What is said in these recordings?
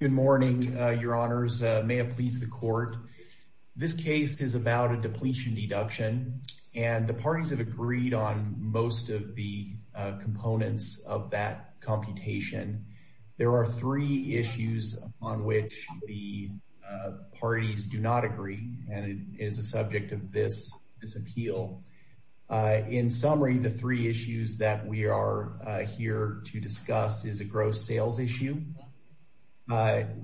Good morning, your honors. May it please the court. This case is about a depletion deduction and the parties have agreed on most of the components of that computation. There are three issues on which the parties do not agree and it is the subject of this appeal. In summary, the three issues that we are here to discuss is a gross sales issue,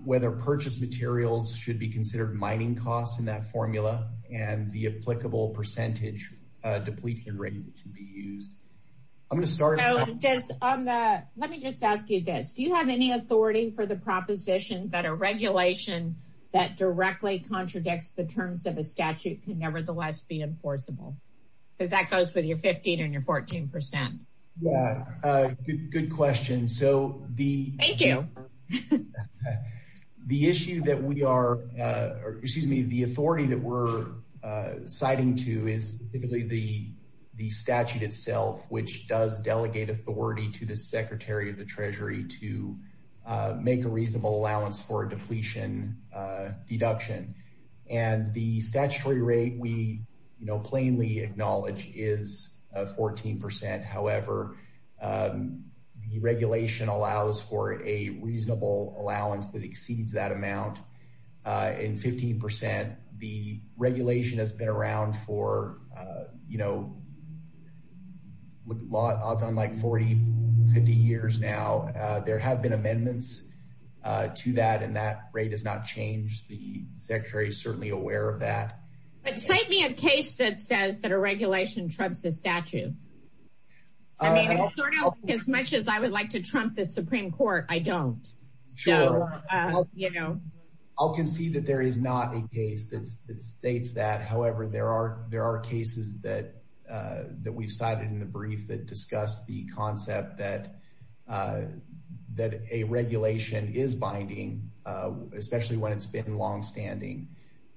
whether purchase materials should be considered mining costs in that formula, and the applicable percentage depletion rate that should be used. I'm going to start. Let me just ask you this. Do you have any authority for the proposition that a regulation that directly contradicts the terms of a statute can nevertheless be enforceable? Because that goes with your 15 and your 14 percent. Yeah, good question. So the issue that we are, excuse me, the authority that we're citing to is typically the statute itself, which does delegate authority to the Secretary of the Treasury to make a reasonable allowance for a depletion deduction. And the statutory rate we, you know, plainly acknowledge is 14 percent. However, the regulation allows for a reasonable allowance that exceeds that amount in 15 percent. The regulation has been around for, you know, odds on like 40, 50 years now. There have been amendments to that, and that rate has not changed. The Secretary is certainly aware of that. But cite me a case that says that a regulation trumps the statute. I mean, as much as I would like to trump the Supreme Court, I don't. Sure. I'll concede that there is not a case that states that. However, there are there are cases that we've cited in the brief that discuss the concept that that a regulation is binding, especially when it's been longstanding.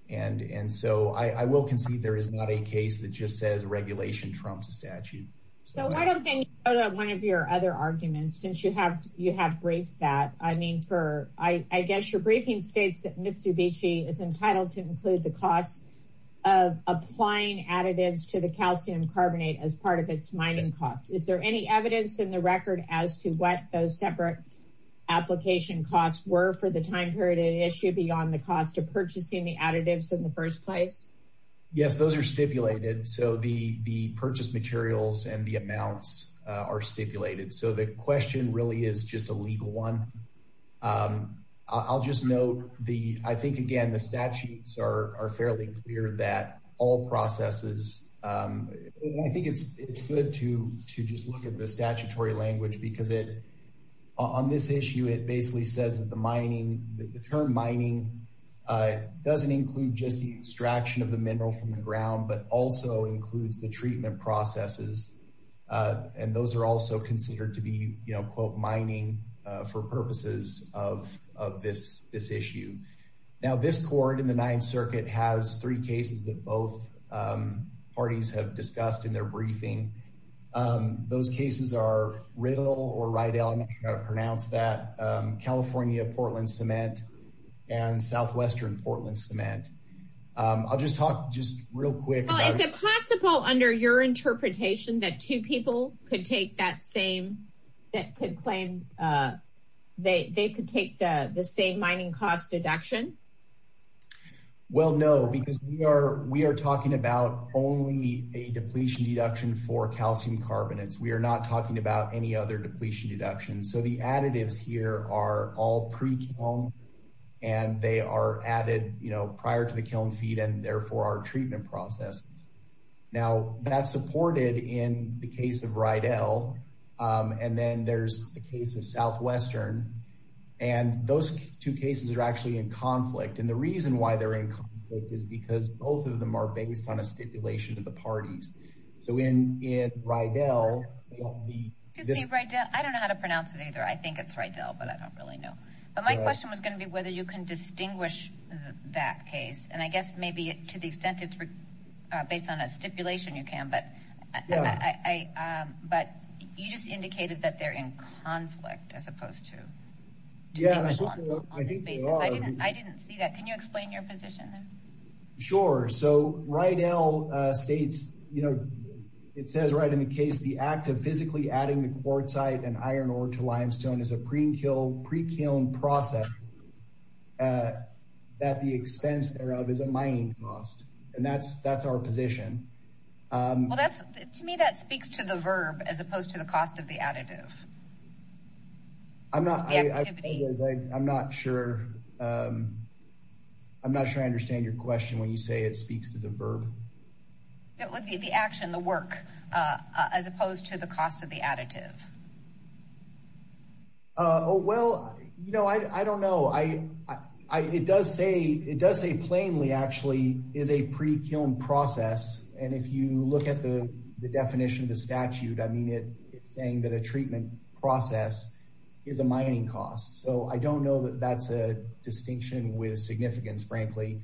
And so I will concede there is not a case that just says regulation trumps a statute. So why don't you go to one of your other arguments since you have you have briefed that? I mean, for I guess your briefing states that Mitsubishi is entitled to include the cost of applying additives to the calcium those separate application costs were for the time period an issue beyond the cost of purchasing the additives in the first place. Yes, those are stipulated. So the purchase materials and the amounts are stipulated. So the question really is just a legal one. I'll just note the I think, again, the statutes are fairly clear that all processes. I think it's good to just look at the statutory language because it on this issue, it basically says that the mining term mining doesn't include just the extraction of the mineral from the ground, but also includes the treatment processes. And those are also considered to be, you know, quote, mining for purposes of of this this issue. Now, this court in the Ninth Circuit has three cases that both parties have discussed in their briefing. Those cases are Riddle or Rydell. I'm not sure how to pronounce that. California, Portland Cement and Southwestern Portland Cement. I'll just talk just real quick. Is it possible under your interpretation that two people could take that same that could claim they could take the same mining cost deduction? Well, no, because we are we are talking about only a depletion deduction for calcium carbonates. We are not talking about any other depletion deductions. So the additives here are all pre-kiln and they are added, you know, prior to the kiln feed and therefore our treatment process. Now, that's supported in the case of Rydell. And then there's the case of Southwestern. And those two cases are actually in conflict. And the reason why they're in conflict is because both of them are based on a stipulation of the parties. So in in Rydell. I don't know how to pronounce it either. I think it's Rydell, but I don't really know. But my question was going to be whether you can distinguish that case. And I guess maybe to the extent it's based on a stipulation, you can. But but you just indicated that they're in conflict as opposed to. I think I didn't I didn't see that. Can you explain your position? Sure. So Rydell states, you know, it says right in the case, the act of physically adding the quartzite and iron ore to limestone is a pre-kiln process that the expense thereof is a mining cost. And that's that's our position. Well, that's to me, that speaks to the verb as opposed to the cost of the additive. I'm not. I'm not sure. I'm not sure I understand your question when you say it speaks to the verb. It would be the action, the work as opposed to the cost of the additive. Oh, well, you know, I don't know. I it does say it does say plainly actually is a pre-kiln process. And if you look at the definition of the statute, I mean, it's saying that a treatment process is a mining cost. So I don't know that that's a distinction with significance, frankly.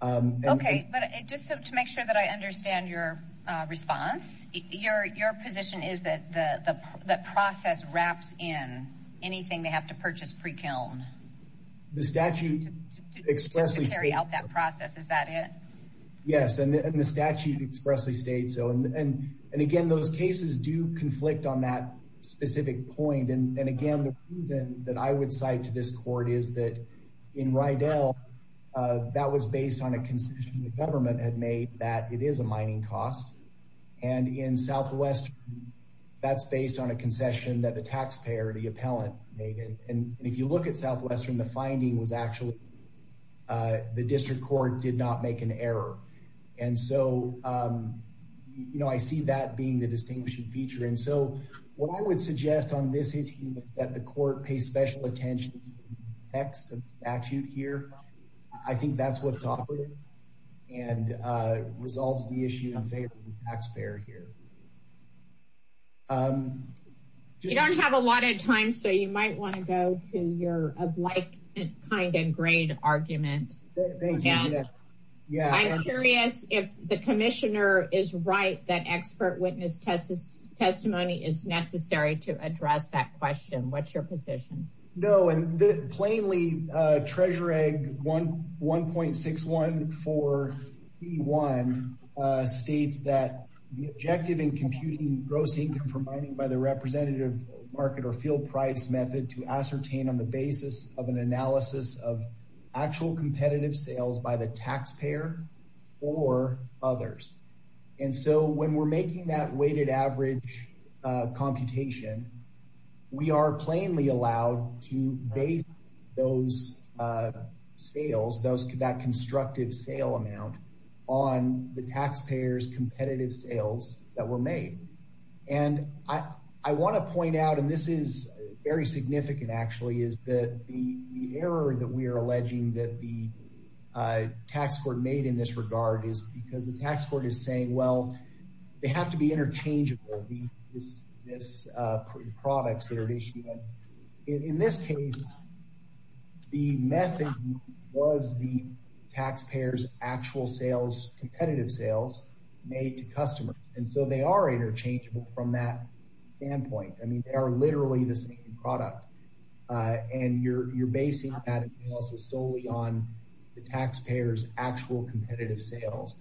OK, but just to make sure that I understand your response, your your position is that the process wraps in anything they have to purchase pre-kiln. The statute expressly carry out that process. Is that it? Yes. And the statute expressly states so. And again, those cases do conflict on that specific point. And again, the reason that I would cite to this court is that in Rydell, that was based on a concession the government had made that it is a mining cost. And in Southwest, that's based on a concession that the taxpayer, the appellant made. And if you look at Southwestern, the finding was actually the district court did not make an error. And so, you know, I see that being the feature. And so what I would suggest on this issue is that the court pay special attention to the text of the statute here. I think that's what's awkward and resolves the issue in favor of the taxpayer here. You don't have a lot of time, so you might want to go to your of like, kind and grade argument. I'm curious if the commissioner is right that expert witness testimony is necessary to address that question. What's your position? No. And plainly, Treasure Egg 1.614C1 states that the objective in computing gross income for mining by the representative market or field price method to ascertain on the basis of an analysis of actual competitive sales by the taxpayer or others. And so when we're making that weighted average computation, we are plainly allowed to base those sales, that constructive sale amount on the taxpayer's competitive sales that were made. And I want to point out, and this is very significant, actually, is that the error that we are alleging that the tax court made in this regard is because the tax court is saying, well, they have to be interchangeable, these products that are issued. In this case, the method was the taxpayer's actual sales, competitive sales made to customers. And so they are interchangeable from that standpoint. I mean, they are literally the same product. And you're basing that analysis solely on the taxpayer's actual competitive sales.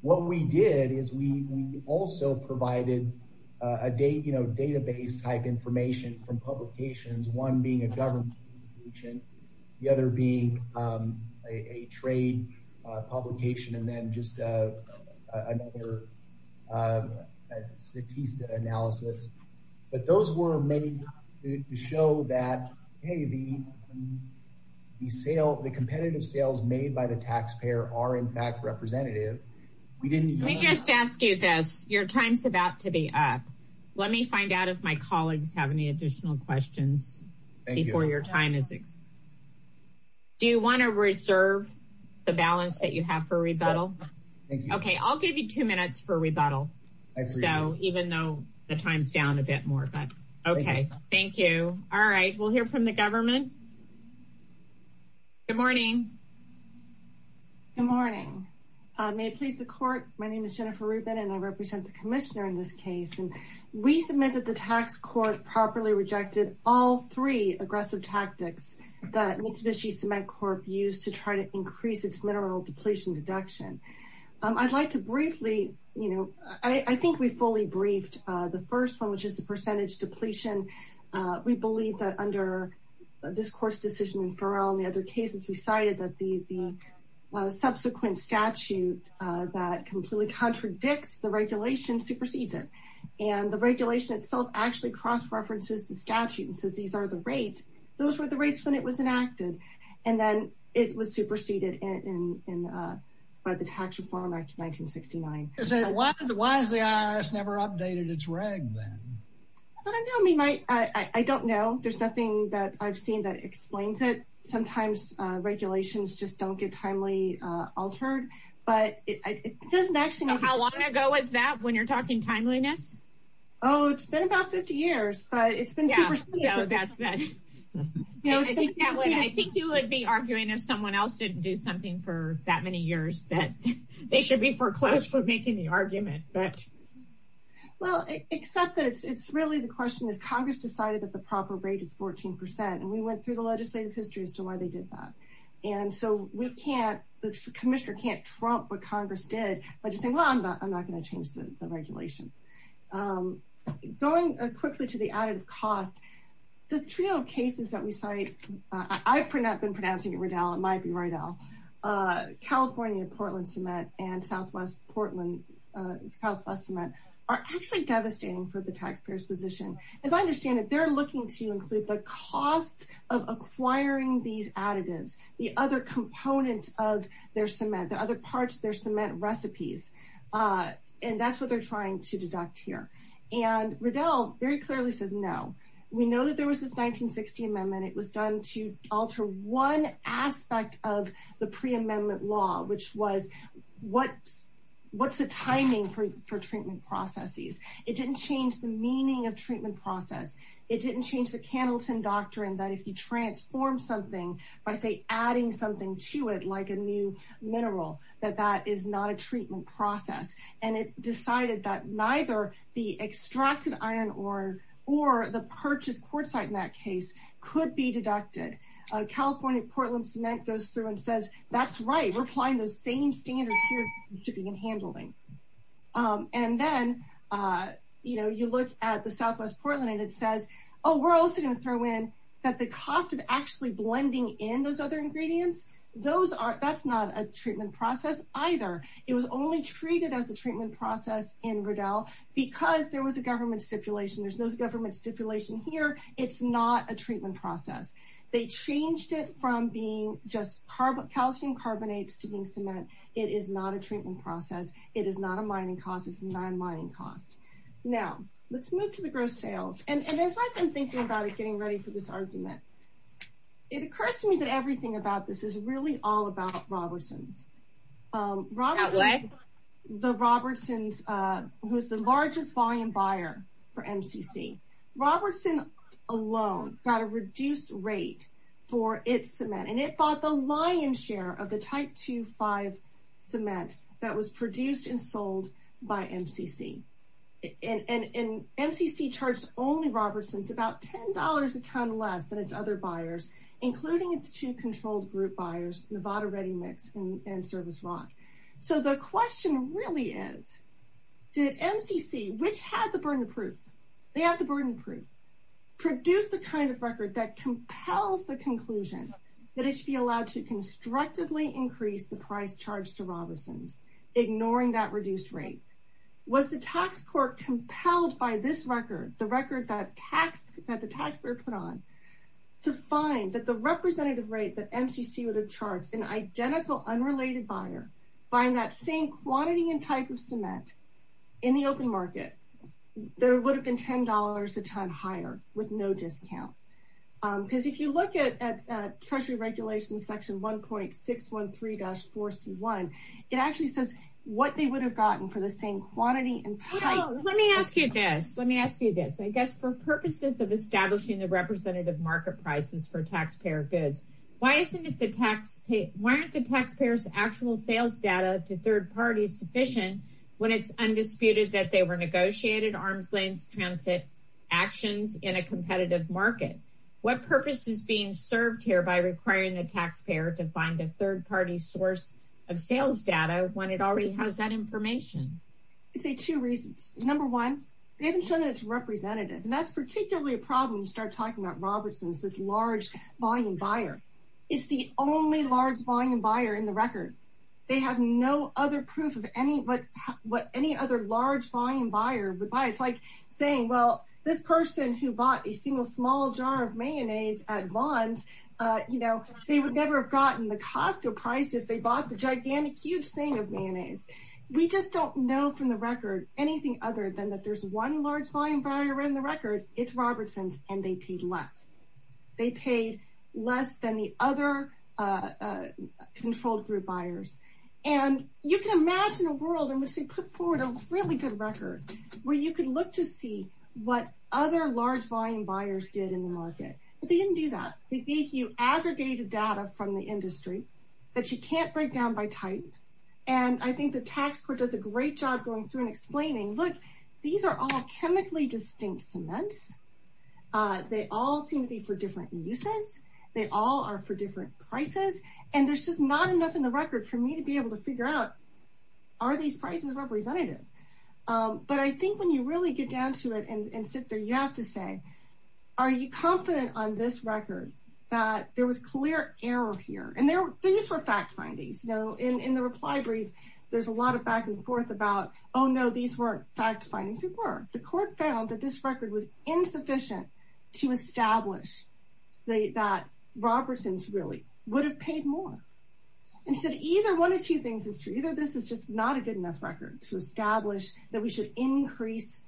What we did is we also provided a database type information from publications, one being a government publication, the other being a trade publication, and then just another statistic analysis. But those were made to show that, hey, the competitive sales made by the taxpayer are, in fact, representative. We didn't- Let me just ask you this. Your time's about to be up. Let me find out if my colleagues have any additional questions before your time is up. Do you want to reserve the balance that you have for rebuttal? Okay. I'll give you two minutes for rebuttal. So even though the time's down a bit more, but okay. Thank you. All right. We'll hear from the government. Good morning. Good morning. May it please the court. My name is Jennifer Rubin, and I represent the commissioner in this case. And we submit that the tax court properly rejected all three aggressive tactics that Mitsubishi Cement Corp used to try to increase its mineral depletion deduction. I'd like to briefly, you know, I think we fully briefed the first one, which is the percentage depletion. We believe that under this court's decision in Farrell and the other cases we cited, that the subsequent statute that completely contradicts the regulation supersedes it. And the regulation itself actually cross-references the statute and says, these are the rates. Those were the rates when it was enacted. And then it was superseded by the Tax Reform Act of 1969. Why has the IRS never updated its reg then? I don't know. I mean, I don't know. There's nothing that I've seen that explains it. Sometimes regulations just don't get timely altered, but it doesn't actually. How long ago was that when you're talking timeliness? Oh, it's been about 50 years, but it's been superseded. I think you would be arguing if someone else didn't do something for that many years that they should be foreclosed for making the argument. Beth? Well, except that it's really the question is Congress decided that the proper rate is 14%, and we went through the legislative history as to why they did that. And so we can't, the commissioner can't trump what Congress did by just saying, well, I'm not going to change the regulation. Going quickly to the additive cost, the trio of cases that we cite, I've not been are actually devastating for the taxpayer's position. As I understand it, they're looking to include the cost of acquiring these additives, the other components of their cement, the other parts of their cement recipes. And that's what they're trying to deduct here. And Riddell very clearly says no. We know that there was this 1960 amendment. It was done to alter one aspect of the for treatment processes. It didn't change the meaning of treatment process. It didn't change the Hamilton doctrine that if you transform something by say adding something to it, like a new mineral, that that is not a treatment process. And it decided that neither the extracted iron ore or the purchase court site in that case could be deducted. California Portland cement goes through and says, that's right. We're applying those same standards here to begin handling. And then, you know, you look at the Southwest Portland and it says, oh, we're also going to throw in that the cost of actually blending in those other ingredients, those are, that's not a treatment process either. It was only treated as a treatment process in Riddell because there was a government stipulation. There's no government stipulation here. It's not a treatment process. They changed it from being just carbon calcium carbonates to being it is not a treatment process. It is not a mining cost. It's a non mining cost. Now let's move to the gross sales. And as I've been thinking about it, getting ready for this argument, it occurs to me that everything about this is really all about Robertson's. The Robertson's who's the largest volume buyer for MCC. Robertson alone got a reduced rate for its cement and it bought the lion's share of the type two five cement that was produced and sold by MCC. And MCC charged only Robertson's about $10 a ton less than its other buyers, including its two controlled group buyers, Nevada Ready Mix and Service Rock. So the question really is, did MCC, which had the burden of proof, they had the burden of proof, produce the kind of record that compels the conclusion that it should be allowed to constructively increase the price charged to Robertson's, ignoring that reduced rate? Was the tax court compelled by this record, the record that tax that the taxpayer put on to find that the representative rate that MCC would have charged an identical unrelated buyer buying that same quantity and type of cement in the open market, there would have been $10 a ton higher with no discount. Because if you look at Treasury Regulations Section 1.613-4C1, it actually says what they would have gotten for the same quantity and type. Let me ask you this. Let me ask you this. I guess for purposes of establishing the representative market prices for taxpayer goods, why isn't it the taxpayer's actual sales data to third parties sufficient when it's undisputed that they were negotiated arms lanes transit actions in a competitive market? What purpose is being served here by requiring the taxpayer to find a third party source of sales data when it already has that information? I'd say two reasons. Number one, they haven't shown that it's representative, and that's particularly a problem when you start talking about Robertson's, this large volume buyer. It's the only large volume buyer in the record. They have no other proof of what any other large volume buyer would buy. It's like saying, well, this person who bought a single small jar of mayonnaise at Vons, they would never have gotten the Costco price if they bought the gigantic, huge thing of mayonnaise. We just don't know from the record anything other than that there's one large volume buyer in the record. It's Robertson's, and they paid less. They paid less than the other controlled group buyers. And you can imagine a world in which they put forward a really good record where you can look to see what other large volume buyers did in the market. But they didn't do that. They gave you aggregated data from the industry that you can't break down by type. And I think the tax court does a great job going through and explaining, look, these are all chemically distinct cements. They all seem to be for different uses. They all are for different prices. And there's just not enough in the record for me to be able to figure out, are these prices representative? But I think when you really get down to it and sit there, you have to say, are you confident on this record that there was clear error here? And these were fact findings. In the reply brief, there's a lot of back and forth about, oh, no, these weren't fact findings. It were. The court found that this record was insufficient to establish that Robertson's really would have paid more. And said either one of two things is true. Either this is just not a good enough record to establish that we should increase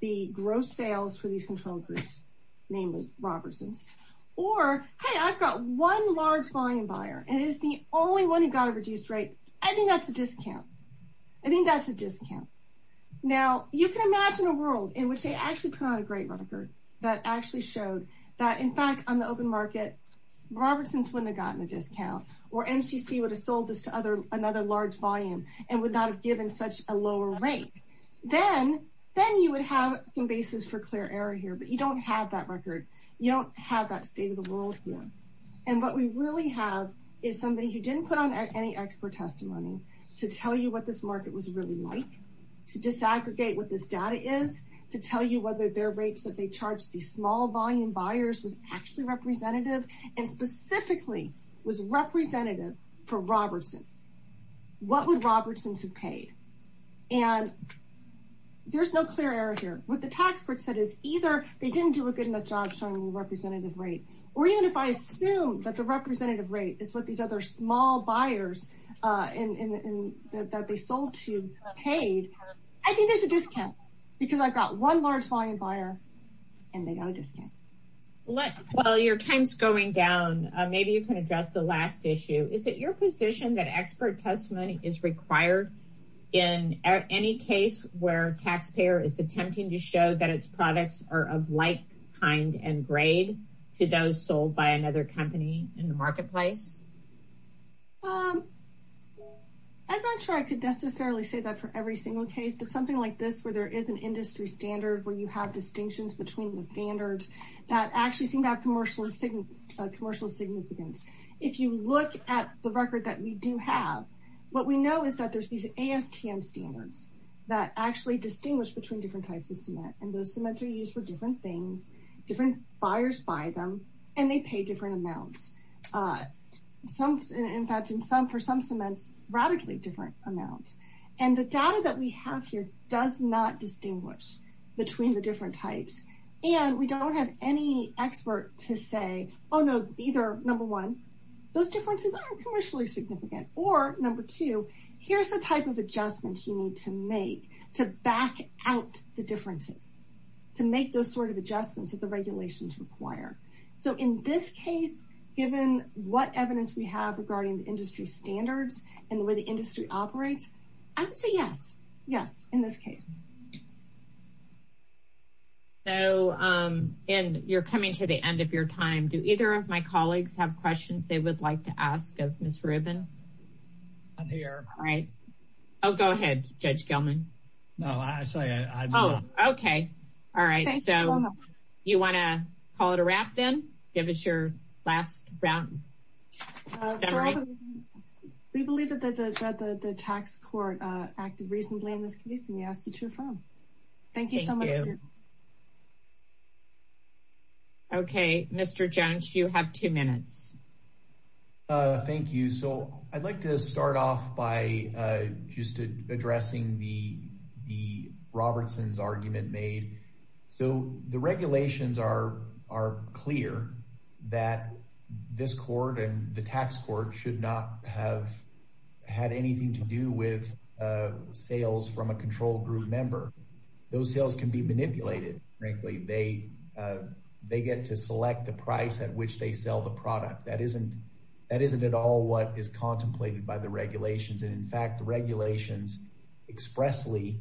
the gross sales for these controlled groups, namely Robertson's. Or, hey, I've got one large volume buyer, and it's the only one who got a reduced rate. I think that's a discount. I think that's a discount. Now, you can imagine a world in which they actually put out a great record that actually showed that, in fact, on the open market, Robertson's wouldn't have gotten a discount or MCC would have sold this to another large volume and would not have given such a lower rate. Then you would have some basis for clear error here, but you don't have that record. You don't have that state of the world here. And what we really have is somebody who didn't put on any expert testimony to tell you what this market was really like, to disaggregate what this data is, to tell you whether their rates that they charged these small volume buyers was actually representative and specifically was representative for Robertson's. What would Robertson's have paid? And there's no clear error here. What the tax court said is either they didn't do a good enough job showing the representative rate, or even if I assume that the representative rate is what these small buyers that they sold to paid, I think there's a discount because I've got one large volume buyer and they got a discount. While your time's going down, maybe you can address the last issue. Is it your position that expert testimony is required in any case where a taxpayer is attempting to show that its products are of like kind and grade to those sold by another company in the marketplace? I'm not sure I could necessarily say that for every single case, but something like this where there is an industry standard where you have distinctions between the standards that actually seem to have commercial significance. If you look at the record that we do have, what we know is that there's these ASTM standards that actually distinguish between different types of cement. And those cements are used for different things, different buyers buy them, and they pay different amounts. In fact, for some cements, radically different amounts. And the data that we have here does not distinguish between the different types. And we don't have any expert to say, oh no, either number one, those differences aren't commercially significant, or number two, here's the type of adjustments you need to make to back out the differences, to make those sort of adjustments that the regulations require. So in this case, given what evidence we have regarding the industry standards and the way the industry operates, I would say yes. Yes, in this case. So, and you're coming to the end of your time. Do either of my colleagues have questions they would like to ask of Ms. Rubin? I'm here. All right. Oh, go ahead, Judge Gelman. No, I'm sorry. Oh, okay. All right. So you want to call it a wrap then? Give us your last round. We believe that the tax court acted reasonably in this case, and we ask that you affirm. Thank you so much. Okay, Mr. Jones, you have two minutes. Thank you. So I'd like to start off by just addressing the Robertson's argument made. So the regulations are clear that this court and the tax court should not have had anything to do with sales from a control group member. Those sales can be manipulated, frankly. They get to that isn't at all what is contemplated by the regulations. And in fact, the regulations expressly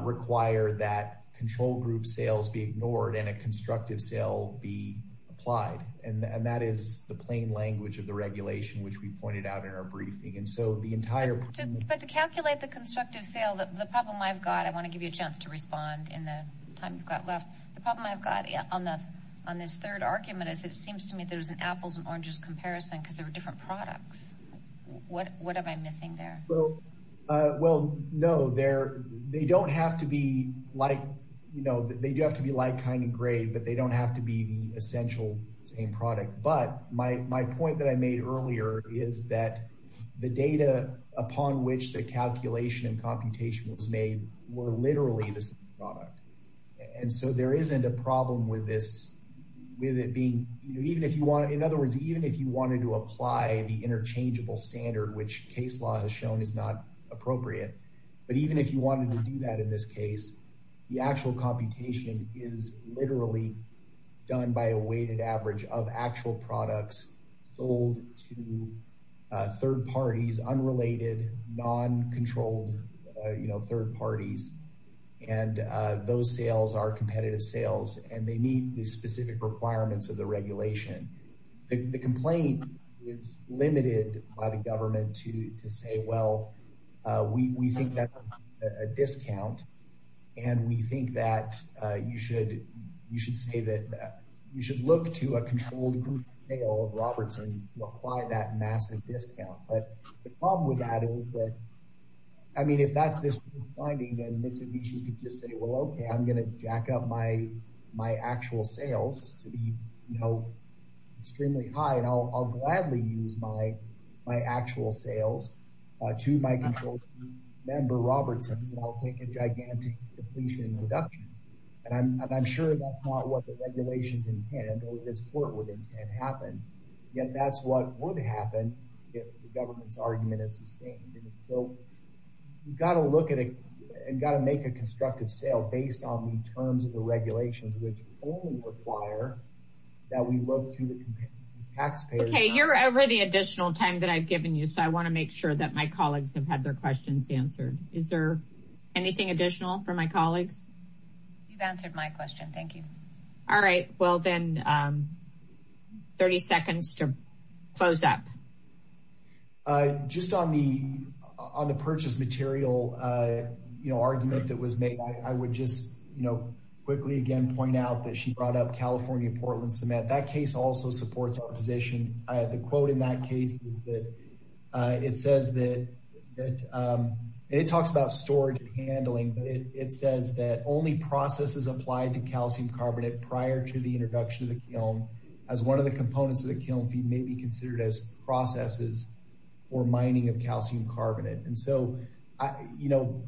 require that control group sales be ignored and a constructive sale be applied. And that is the plain language of the regulation, which we pointed out in our briefing. And so the entire- But to calculate the constructive sale, the problem I've got, I want to give you a chance to respond in the time you've got left. The problem I've got on this third argument is it is a comparison because there are different products. What am I missing there? Well, no, they don't have to be like kind of great, but they don't have to be the essential same product. But my point that I made earlier is that the data upon which the calculation and computation was made were literally the same product. And so there isn't a problem with this, with it being- In other words, even if you wanted to apply the interchangeable standard, which case law has shown is not appropriate, but even if you wanted to do that in this case, the actual computation is literally done by a weighted average of actual products sold to third parties, unrelated, non-controlled third parties. And those sales are competitive sales and they meet the specific requirements of the regulation. The complaint is limited by the government to say, well, we think that's a discount. And we think that you should say that you should look to a controlled group sale of Robertson's to apply that massive discount. But the problem with that is that, I mean, if that's this finding and Mitsubishi could just say, well, okay, I'm going to jack up my actual sales to be, you know, extremely high. And I'll gladly use my actual sales to my controlled member Robertson's and I'll take a gigantic depletion reduction. And I'm sure that's not what the regulations intend or this court would intend to happen. Yet that's what would happen if the government's argument is sustained. So we've got to look at it and got to make a constructive sale based on the terms of the regulations, which only require that we look to the taxpayers. Okay. You're over the additional time that I've given you. So I want to make sure that my colleagues have had their questions answered. Is there anything additional for my colleagues? You've answered my question. Thank you. All right. Well, then 30 seconds to close up. Just on the, on the purchase material, you know, argument that was made, I would just, you know, quickly again, point out that she brought up California, Portland cement. That case also supports our position. The quote in that case is that it says that it talks about handling, but it says that only processes applied to calcium carbonate prior to the introduction of the kiln as one of the components of the kiln feed may be considered as processes or mining of calcium carbonate. And so, you know,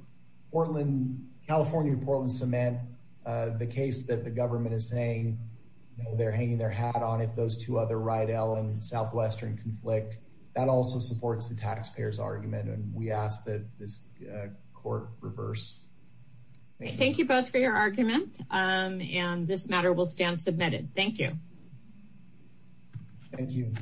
Portland, California, Portland cement, the case that the government is saying, you know, they're hanging their hat on if those two other Southwestern conflict that also supports the taxpayers argument. And we ask that this court reverse. Thank you both for your argument. And this matter will stand submitted. Thank you. Thank you.